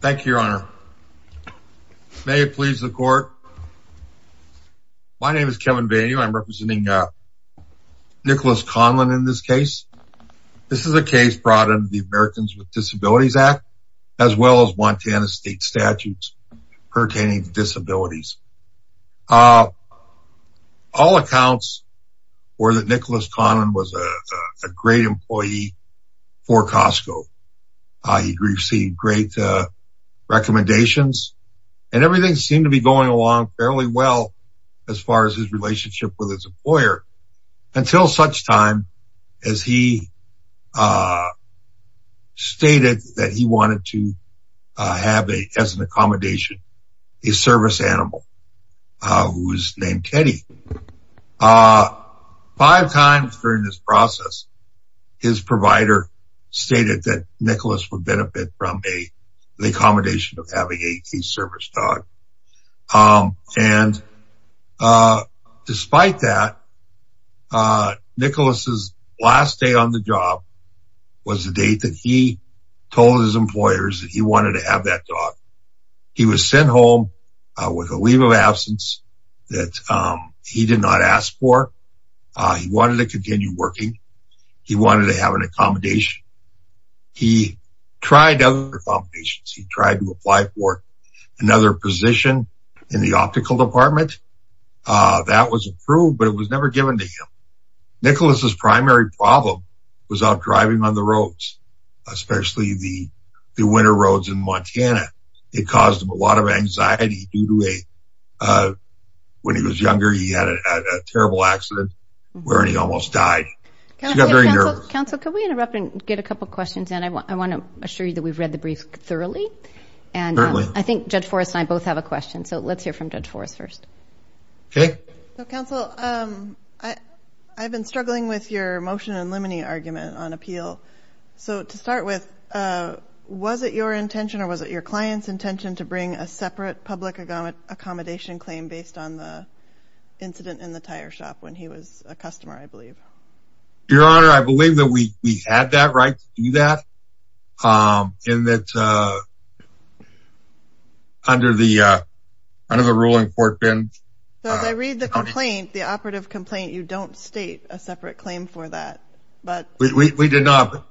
Thank you, your honor. May it please the court. My name is Kevin Vanew. I'm representing Nicholas Conlan in this case. This is a case brought into the Americans with Disabilities Act, as well as Montana state statutes pertaining to disabilities. All accounts were that Nicholas Conlan was a great employee for Costco. He received great recommendations and everything seemed to be going along fairly well as far as his relationship with his employer until such time as he stated that he wanted to have a, as an accommodation, a service animal. Who's named Kenny. Five times during this process, his provider stated that Nicholas would benefit from a, the accommodation of having a service dog. And despite that, Nicholas's last day on the job was the date that he told his employers that he wanted to have that dog. He was sent home with a leave of absence that he did not ask for. He wanted to continue working. He wanted to have an accommodation. He tried other accommodations. He tried to apply for another position in the optical department. That was approved, but it was never given to him. Nicholas's primary problem was out driving on the roads, especially the winter roads in Montana. It caused him a lot of anxiety due to a, when he was younger, he had a terrible accident where he almost died. Counsel, can we interrupt and get a couple of questions? And I want, I want to assure you that we've read the brief thoroughly. And I think Judge Forrest and I both have a question. So let's hear from Judge Forrest first. Counsel, I've been struggling with your motion and limiting argument on appeal. So to start with, was it your intention or was it your client's intention to bring a separate public accommodation claim based on the incident in the tire shop when he was a customer? I believe. Your Honor, I believe that we had that right to do that. And that's under the, under the ruling court bin. So as I read the complaint, the operative complaint, you don't state a separate claim for that. We did not.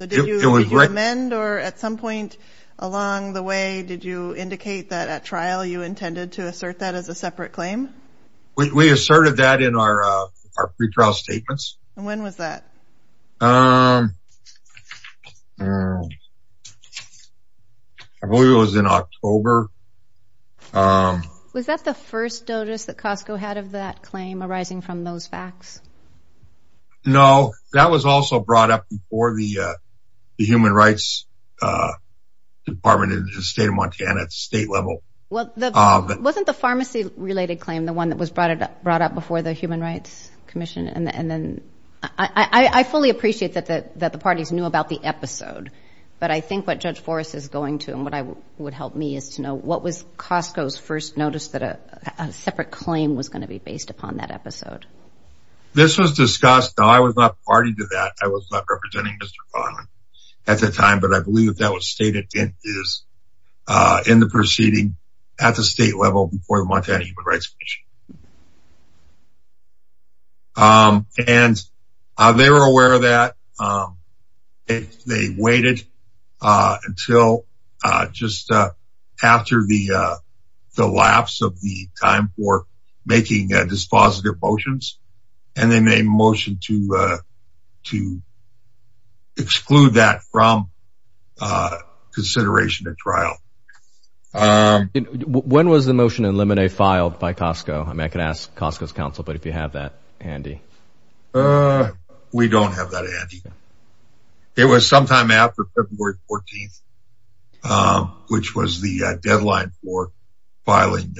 Did you amend or at some point along the way, did you indicate that at trial you intended to assert that as a separate claim? We asserted that in our, our pretrial statements. And when was that? I believe it was in October. Was that the first notice that Costco had of that claim arising from those facts? No, that was also brought up before the human rights department in the state of Montana at the state level. Well, wasn't the pharmacy related claim, the one that was brought up, brought up before the human rights commission. And then I fully appreciate that, that the parties knew about the episode. But I think what Judge Forrest is going to and what I would help me is to know what was Costco's first notice that a separate claim was going to be based upon that episode. This was discussed. No, I was not party to that. I was not representing Mr. Conlin at the time, but I believe that that was stated in the proceeding at the state level before the Montana human rights commission. And they were aware of that. They waited until just after the lapse of the time for making dispositive motions. And then they motioned to exclude that from consideration at trial. When was the motion in limine filed by Costco? I mean, I could ask Costco's counsel, but if you have that handy. We don't have that handy. It was sometime after February 14th, which was the deadline for filing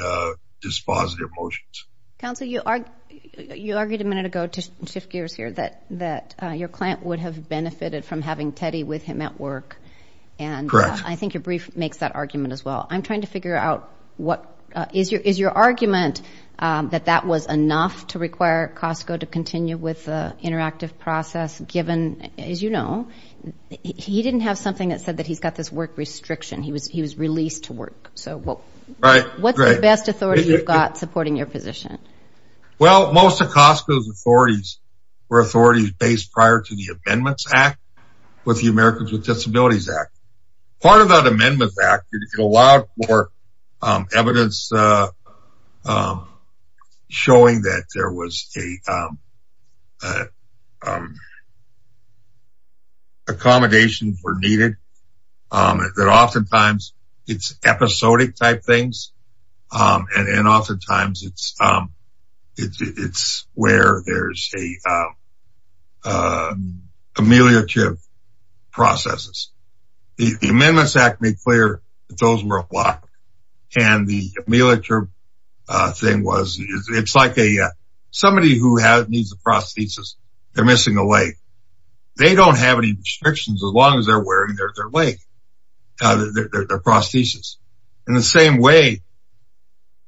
dispositive motions. Counsel, you argued a minute ago to shift gears here that your client would have benefited from having Teddy with him at work. Correct. I think your brief makes that argument as well. I'm trying to figure out what is your argument that that was enough to require Costco to continue with the interactive process given, as you know. He didn't have something that said that he's got this work restriction. He was released to work. So what's the best authority you've got supporting your position? Well, most of Costco's authorities were authorities based prior to the Amendments Act with the Americans with Disabilities Act. Part of that Amendments Act, it allowed for evidence showing that there was a accommodation for needed, that oftentimes it's episodic type things. And oftentimes it's where there's ameliorative processes. The Amendments Act made clear that those were a block. And the ameliorative thing was, it's like somebody who needs a prosthesis, they're missing a leg. They don't have any restrictions as long as they're wearing their prosthesis. In the same way,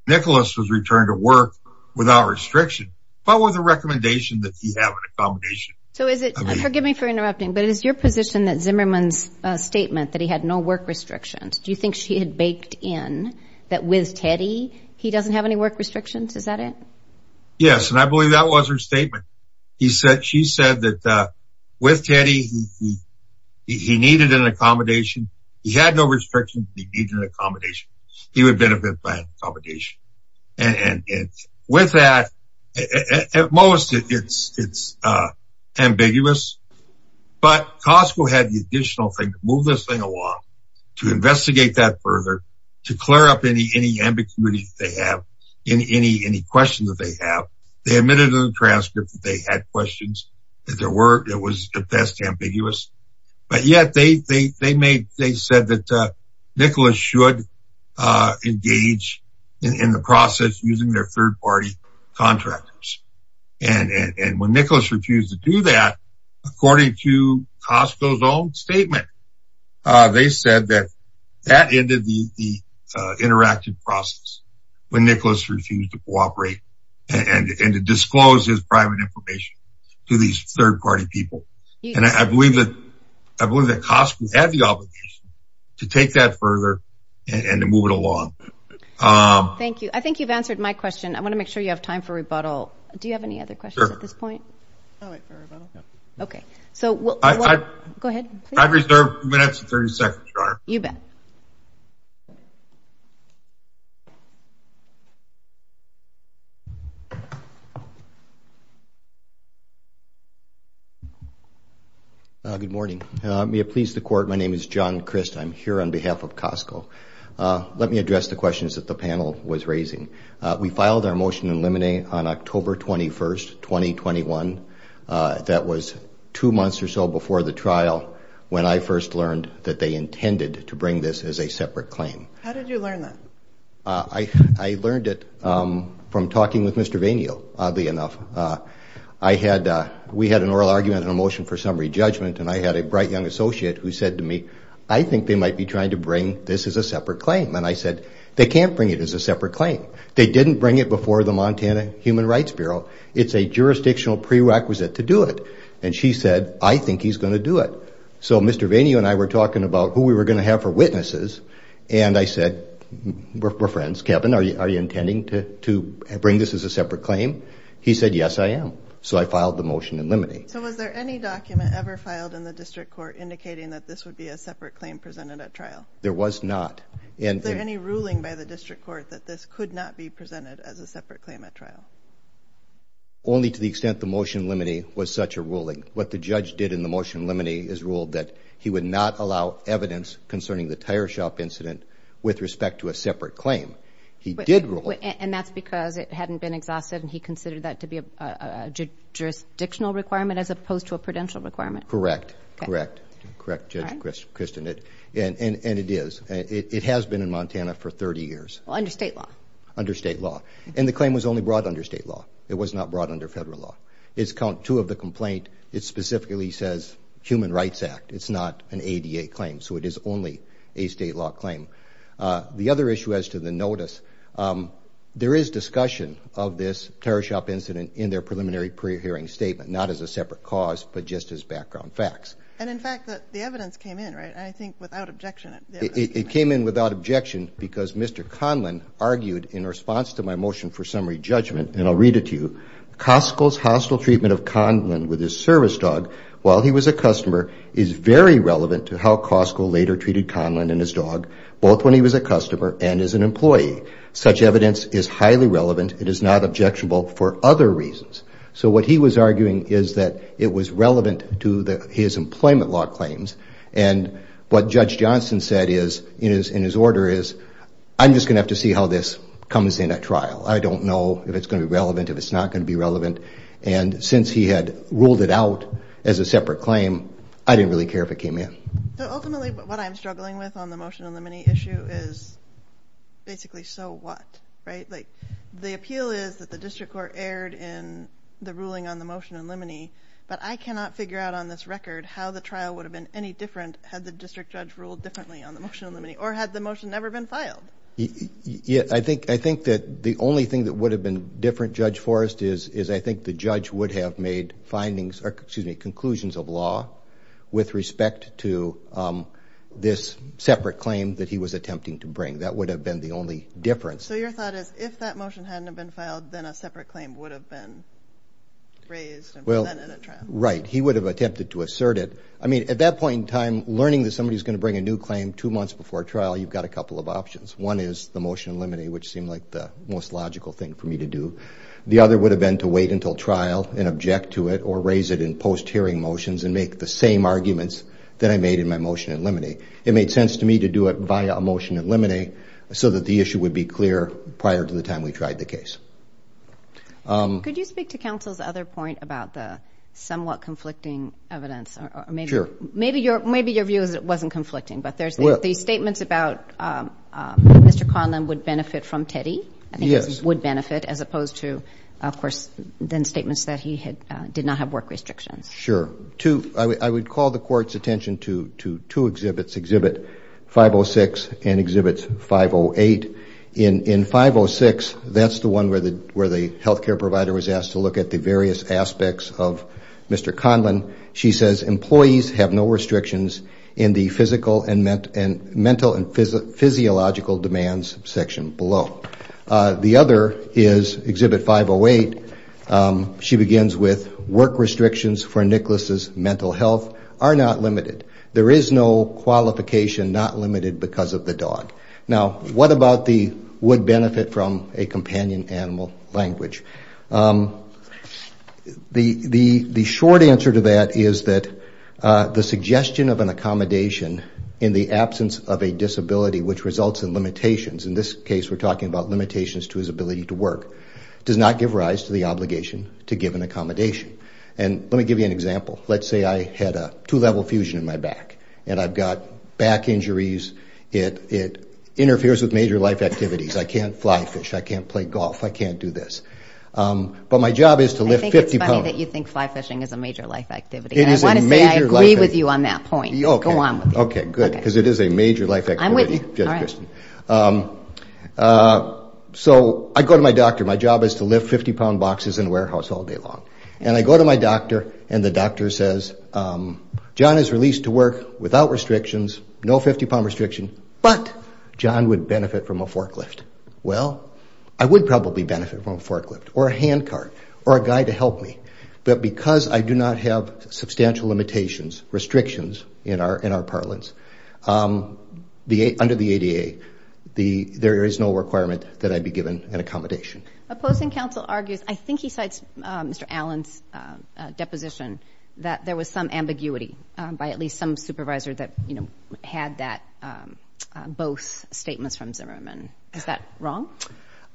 Nicholas was returned to work without restriction, but with a recommendation that he have an accommodation. So is it, forgive me for interrupting, but is your position that Zimmerman's statement that he had no work restrictions, do you think she had baked in that with Teddy, he doesn't have any work restrictions? Is that it? Yes, and I believe that was her statement. She said that with Teddy, he needed an accommodation. He had no restrictions, he needed an accommodation. He would benefit by accommodation. And with that, at most, it's ambiguous. But Costco had the additional thing to move this thing along, to investigate that further, to clear up any ambiguity they have, any questions that they have. They admitted in the transcript that they had questions, that there were, it was at best ambiguous. But yet they said that Nicholas should engage in the process using their third-party contractors. And when Nicholas refused to do that, according to Costco's own statement, they said that that ended the interactive process. When Nicholas refused to cooperate and to disclose his private information to these third-party people. And I believe that Costco had the obligation to take that further and to move it along. Thank you. I think you've answered my question. I want to make sure you have time for rebuttal. Do you have any other questions at this point? I'll wait for rebuttal. Go ahead, please. I reserve two minutes and 30 seconds, Your Honor. You bet. Thank you. Good morning. May it please the Court, my name is John Crist. I'm here on behalf of Costco. Let me address the questions that the panel was raising. We filed our motion in limine on October 21st, 2021. That was two months or so before the trial when I first learned that they intended to bring this as a separate claim. How did you learn that? I learned it from talking with Mr. Vainio, oddly enough. We had an oral argument and a motion for summary judgment. And I had a bright young associate who said to me, I think they might be trying to bring this as a separate claim. And I said, they can't bring it as a separate claim. They didn't bring it before the Montana Human Rights Bureau. It's a jurisdictional prerequisite to do it. And she said, I think he's going to do it. So Mr. Vainio and I were talking about who we were going to have for witnesses. And I said, we're friends. Kevin, are you intending to bring this as a separate claim? He said, yes, I am. So I filed the motion in limine. So was there any document ever filed in the district court indicating that this would be a separate claim presented at trial? There was not. Was there any ruling by the district court that this could not be presented as a separate claim at trial? Only to the extent the motion in limine was such a ruling. What the judge did in the motion in limine is ruled that he would not allow evidence concerning the tire shop incident with respect to a separate claim. He did rule. And that's because it hadn't been exhausted and he considered that to be a jurisdictional requirement as opposed to a prudential requirement. Correct. Correct. Correct, Judge Kristen. And it is. It has been in Montana for 30 years. Under state law. Under state law. And the claim was only brought under state law. It was not brought under federal law. It's count two of the complaint. It specifically says human rights act. It's not an ADA claim. So it is only a state law claim. The other issue as to the notice, there is discussion of this tire shop incident in their preliminary pre-hearing statement. Not as a separate cause, but just as background facts. And, in fact, the evidence came in, right? I think without objection. It came in without objection because Mr. Conlin argued in response to my motion for summary judgment, and I'll read it to you. Costco's hostile treatment of Conlin with his service dog while he was a customer is very relevant to how Costco later treated Conlin and his dog, both when he was a customer and as an employee. Such evidence is highly relevant. It is not objectionable for other reasons. So what he was arguing is that it was relevant to his employment law claims. And what Judge Johnson said in his order is, I'm just going to have to see how this comes in at trial. I don't know if it's going to be relevant, if it's not going to be relevant. And since he had ruled it out as a separate claim, I didn't really care if it came in. Ultimately, what I'm struggling with on the motion on the many issue is basically so what, right? Like, the appeal is that the district court erred in the ruling on the motion in limine, but I cannot figure out on this record how the trial would have been any different had the district judge ruled differently on the motion in limine or had the motion never been filed. I think that the only thing that would have been different, Judge Forrest, is I think the judge would have made findings or, excuse me, conclusions of law with respect to this separate claim that he was attempting to bring. That would have been the only difference. So your thought is if that motion hadn't have been filed, then a separate claim would have been raised and presented at trial. Right. He would have attempted to assert it. I mean, at that point in time, learning that somebody is going to bring a new claim two months before trial, you've got a couple of options. One is the motion in limine, which seemed like the most logical thing for me to do. The other would have been to wait until trial and object to it or raise it in post-hearing motions and make the same arguments that I made in my motion in limine. It made sense to me to do it via a motion in limine so that the issue would be clear prior to the time we tried the case. Could you speak to counsel's other point about the somewhat conflicting evidence? Sure. Maybe your view is it wasn't conflicting, but there's the statements about Mr. Conlon would benefit from Teddy. Yes. I think he would benefit as opposed to, of course, then statements that he did not have work restrictions. Sure. I would call the Court's attention to two exhibits, Exhibit 506 and Exhibit 508. In 506, that's the one where the health care provider was asked to look at the various aspects of Mr. Conlon. She says employees have no restrictions in the physical and mental and physiological demands section below. The other is Exhibit 508. She begins with work restrictions for Nicholas's mental health are not limited. There is no qualification not limited because of the dog. Now, what about the would benefit from a companion animal language? The short answer to that is that the suggestion of an accommodation in the absence of a disability which results in limitations, in this case we're talking about limitations to his ability to work, does not give rise to the obligation to give an accommodation. And let me give you an example. Let's say I had a two-level fusion in my back and I've got back injuries. It interferes with major life activities. I can't fly fish. I can't play golf. I can't do this. But my job is to lift 50 pounds. I think it's funny that you think fly fishing is a major life activity. It is a major life activity. And I want to say I agree with you on that point. Go on with it. Okay, good, because it is a major life activity. I'm with you. So I go to my doctor. My job is to lift 50-pound boxes in a warehouse all day long. And I go to my doctor and the doctor says, John is released to work without restrictions, no 50-pound restriction, but John would benefit from a forklift. Well, I would probably benefit from a forklift or a handcart or a guy to help me. But because I do not have substantial limitations, restrictions in our parlance, under the ADA there is no requirement that I be given an accommodation. Opposing counsel argues, I think he cites Mr. Allen's deposition, that there was some ambiguity by at least some supervisor that had that, both statements from Zimmerman. Is that wrong?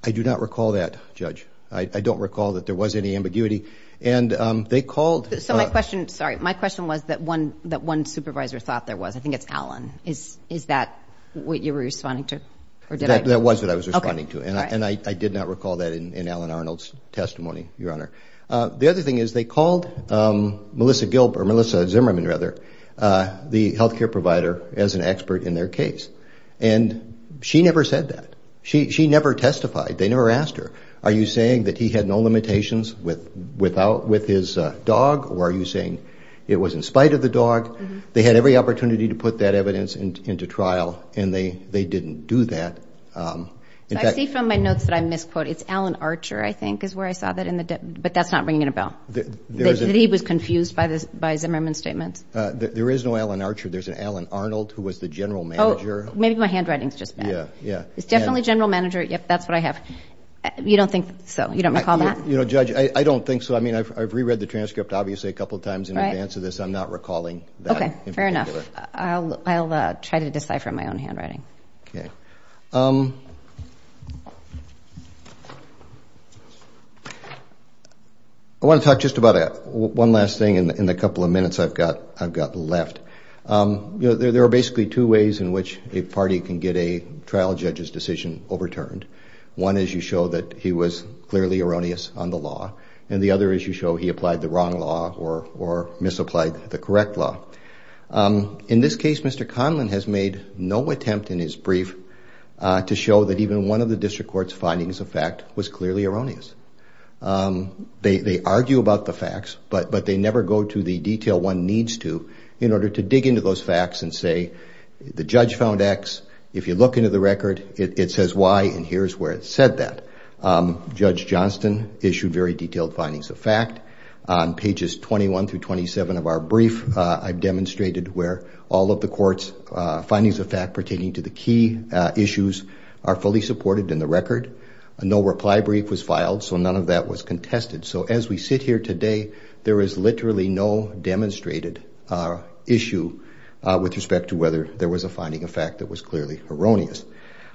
I do not recall that, Judge. I don't recall that there was any ambiguity. And they called. So my question, sorry, my question was that one supervisor thought there was. I think it's Allen. Is that what you were responding to? That was what I was responding to. And I did not recall that in Allen Arnold's testimony, Your Honor. The other thing is they called Melissa Zimmerman, the health care provider, as an expert in their case. And she never said that. She never testified. They never asked her, are you saying that he had no limitations with his dog, or are you saying it was in spite of the dog? They had every opportunity to put that evidence into trial, and they didn't do that. I see from my notes that I misquoted. It's Allen Archer, I think, is where I saw that, but that's not ringing a bell. He was confused by Zimmerman's statement. There is no Allen Archer. There's an Allen Arnold who was the general manager. Oh, maybe my handwriting is just bad. It's definitely general manager. Yep, that's what I have. You don't think so? You don't recall that? You know, Judge, I don't think so. I mean, I've reread the transcript obviously a couple times in advance of this. I'm not recalling that. Okay, fair enough. I'll try to decipher my own handwriting. Okay. I want to talk just about one last thing in the couple of minutes I've got left. There are basically two ways in which a party can get a trial judge's decision overturned. One is you show that he was clearly erroneous on the law, and the other is you show he applied the wrong law or misapplied the correct law. In this case, Mr. Conlin has made no attempt in his brief to show that even one of the district court's findings of fact was clearly erroneous. They argue about the facts, but they never go to the detail one needs to in order to dig into those facts and say the judge found X. If you look into the record, it says Y, and here's where it said that. Judge Johnston issued very detailed findings of fact. On pages 21 through 27 of our brief, I've demonstrated where all of the court's findings of fact pertaining to the key issues are fully supported in the record. No reply brief was filed, so none of that was contested. So as we sit here today, there is literally no demonstrated issue with respect to whether there was a finding of fact that was clearly erroneous.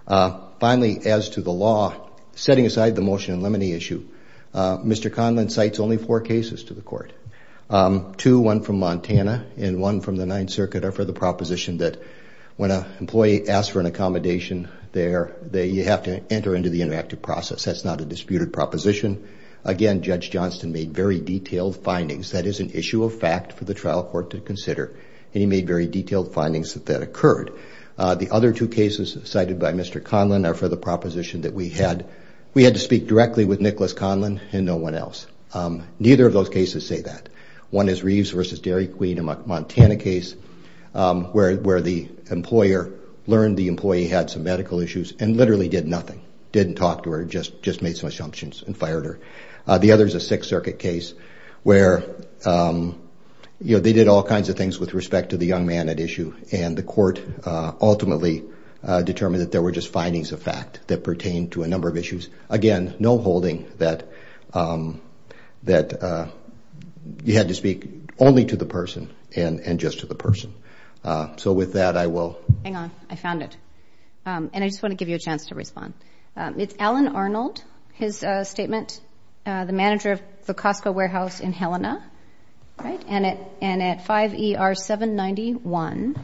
Finally, as to the law, setting aside the motion in limine issue, Mr. Conlin cites only four cases to the court. Two, one from Montana and one from the Ninth Circuit, are for the proposition that when an employee asks for an accommodation there, you have to enter into the interactive process. That's not a disputed proposition. Again, Judge Johnston made very detailed findings. That is an issue of fact for the trial court to consider, and he made very detailed findings that that occurred. The other two cases cited by Mr. Conlin are for the proposition that we had to speak directly with Nicholas Conlin and no one else. Neither of those cases say that. One is Reeves v. Dairy Queen, a Montana case, where the employer learned the employee had some medical issues and literally did nothing, didn't talk to her, just made some assumptions and fired her. The other is a Sixth Circuit case where they did all kinds of things with respect to the young man at issue, and the court ultimately determined that there were just findings of fact that pertained to a number of issues. Again, no holding that you had to speak only to the person and just to the person. So with that, I will... Hang on. I found it. And I just want to give you a chance to respond. It's Alan Arnold, his statement, the manager of the Costco warehouse in Helena, right, and at 5ER791,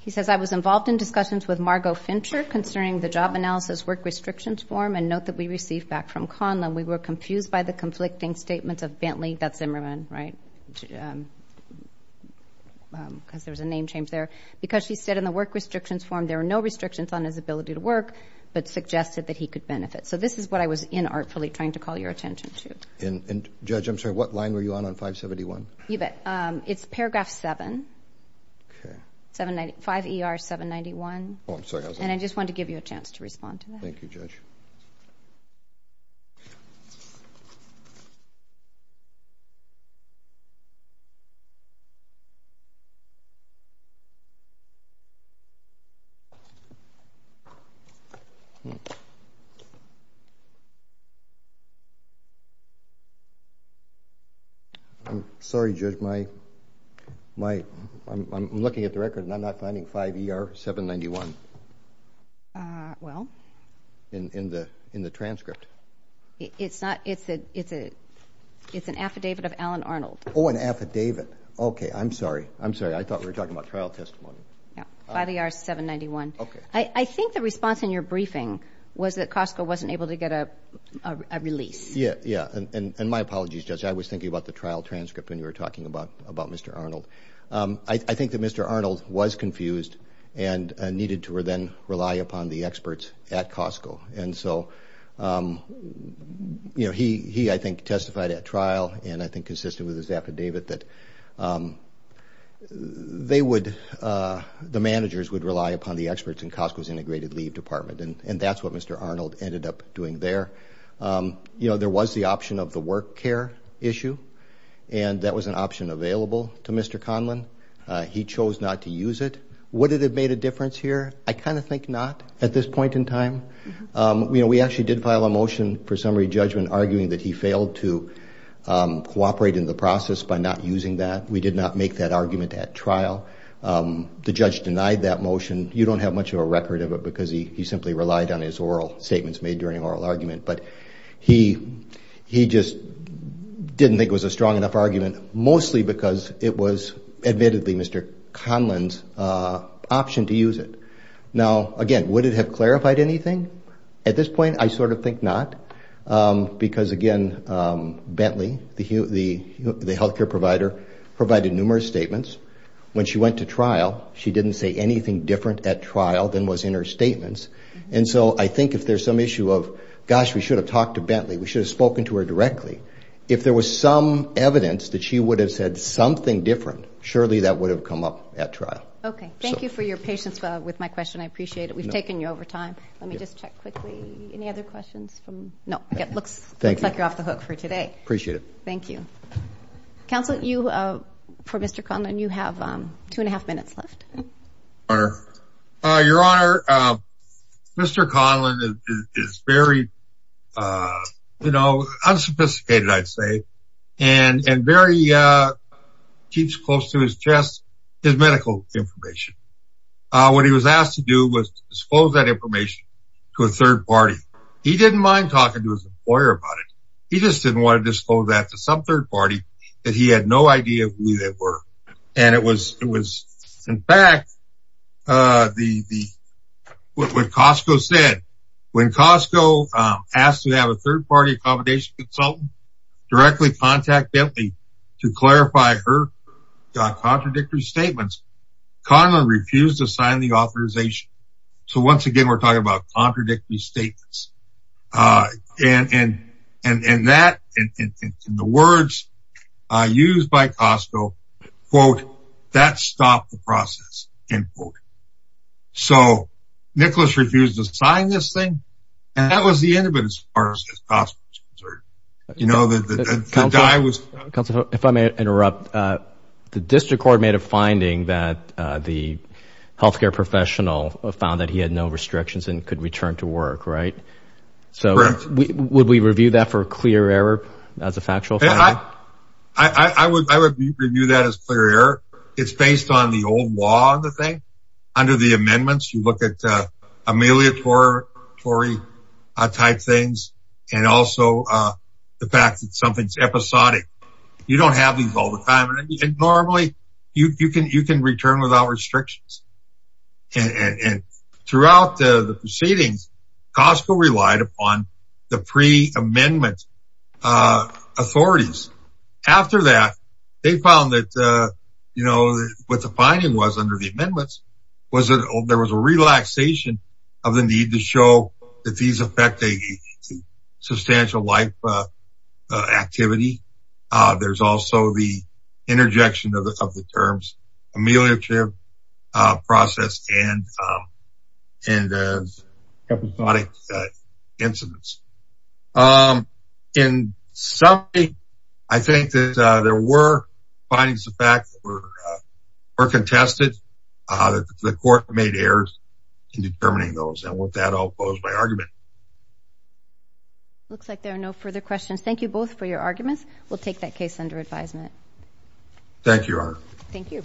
he says, I was involved in discussions with Margo Fincher concerning the job analysis work restrictions form, a note that we received back from Conlon. We were confused by the conflicting statements of Bentley Zimmerman, right, because there was a name change there, because she said in the work restrictions form there were no restrictions on his ability to work but suggested that he could benefit. So this is what I was inartfully trying to call your attention to. And, Judge, I'm sorry, what line were you on on 571? It's paragraph 7, 5ER791. Oh, I'm sorry. And I just wanted to give you a chance to respond to that. Thank you, Judge. I'm sorry, Judge. I'm looking at the record and I'm not finding 5ER791. Well? In the transcript. It's an affidavit of Alan Arnold. Oh, an affidavit. Okay, I'm sorry. I'm sorry, I thought we were talking about trial testimony. 5ER791. Okay. I think the response in your briefing was that Costco wasn't able to get a release. Yeah, yeah, and my apologies, Judge. I was thinking about the trial transcript when you were talking about Mr. Arnold. I think that Mr. Arnold was confused and needed to then rely upon the experts at Costco. And so he, I think, testified at trial and I think consistent with his affidavit that the managers would rely upon the experts in Costco's integrated leave department, and that's what Mr. Arnold ended up doing there. There was the option of the work care issue, and that was an option available to Mr. Conlon. He chose not to use it. Would it have made a difference here? I kind of think not at this point in time. We actually did file a motion for summary judgment arguing that he failed to cooperate in the process by not using that. We did not make that argument at trial. The judge denied that motion. You don't have much of a record of it because he simply relied on his oral statements made during oral argument. But he just didn't think it was a strong enough argument mostly because it was, admittedly, Mr. Conlon's option to use it. Now, again, would it have clarified anything? At this point, I sort of think not because, again, Bentley, the health care provider, provided numerous statements. When she went to trial, she didn't say anything different at trial than was in her statements. And so I think if there's some issue of, gosh, we should have talked to Bentley, we should have spoken to her directly. If there was some evidence that she would have said something different, surely that would have come up at trial. Okay. Thank you for your patience with my question. I appreciate it. We've taken you over time. Let me just check quickly. Any other questions? No. It looks like you're off the hook for today. Appreciate it. Thank you. Counsel, for Mr. Conlon, you have two and a half minutes left. Your Honor, Mr. Conlon is very unsophisticated, I'd say, and very keeps close to his chest his medical information. What he was asked to do was disclose that information to a third party. He didn't mind talking to his employer about it. He just didn't want to disclose that to some third party that he had no idea who they were. And it was, in fact, what Costco said, when Costco asked to have a third party accommodation consultant directly contact Bentley to clarify her contradictory statements, Conlon refused to sign the authorization. So once again, we're talking about contradictory statements. And that, in the words used by Costco, quote, that stopped the process, end quote. So Nicholas refused to sign this thing, and that was the end of it as far as Costco was concerned. Counsel, if I may interrupt, the district court made a finding that the healthcare professional found that he had no restrictions and could return to work, right? Correct. So would we review that for a clear error as a factual finding? I would review that as clear error. It's based on the old law of the thing. Under the amendments, you look at amelioratory type things and also the fact that something's episodic. You don't have these all the time, and normally you can return without restrictions. And throughout the proceedings, Costco relied upon the pre-amendment authorities. After that, they found that, you know, what the finding was under the amendments was that there was a relaxation of the need to show that these affect a substantial life activity. There's also the interjection of the terms ameliorative, process, and episodic incidents. In summary, I think that there were findings of fact that were contested. The court made errors in determining those, and with that, I'll close my argument. Looks like there are no further questions. Thank you both for your arguments. We'll take that case under advisement. Thank you, Your Honor. Thank you.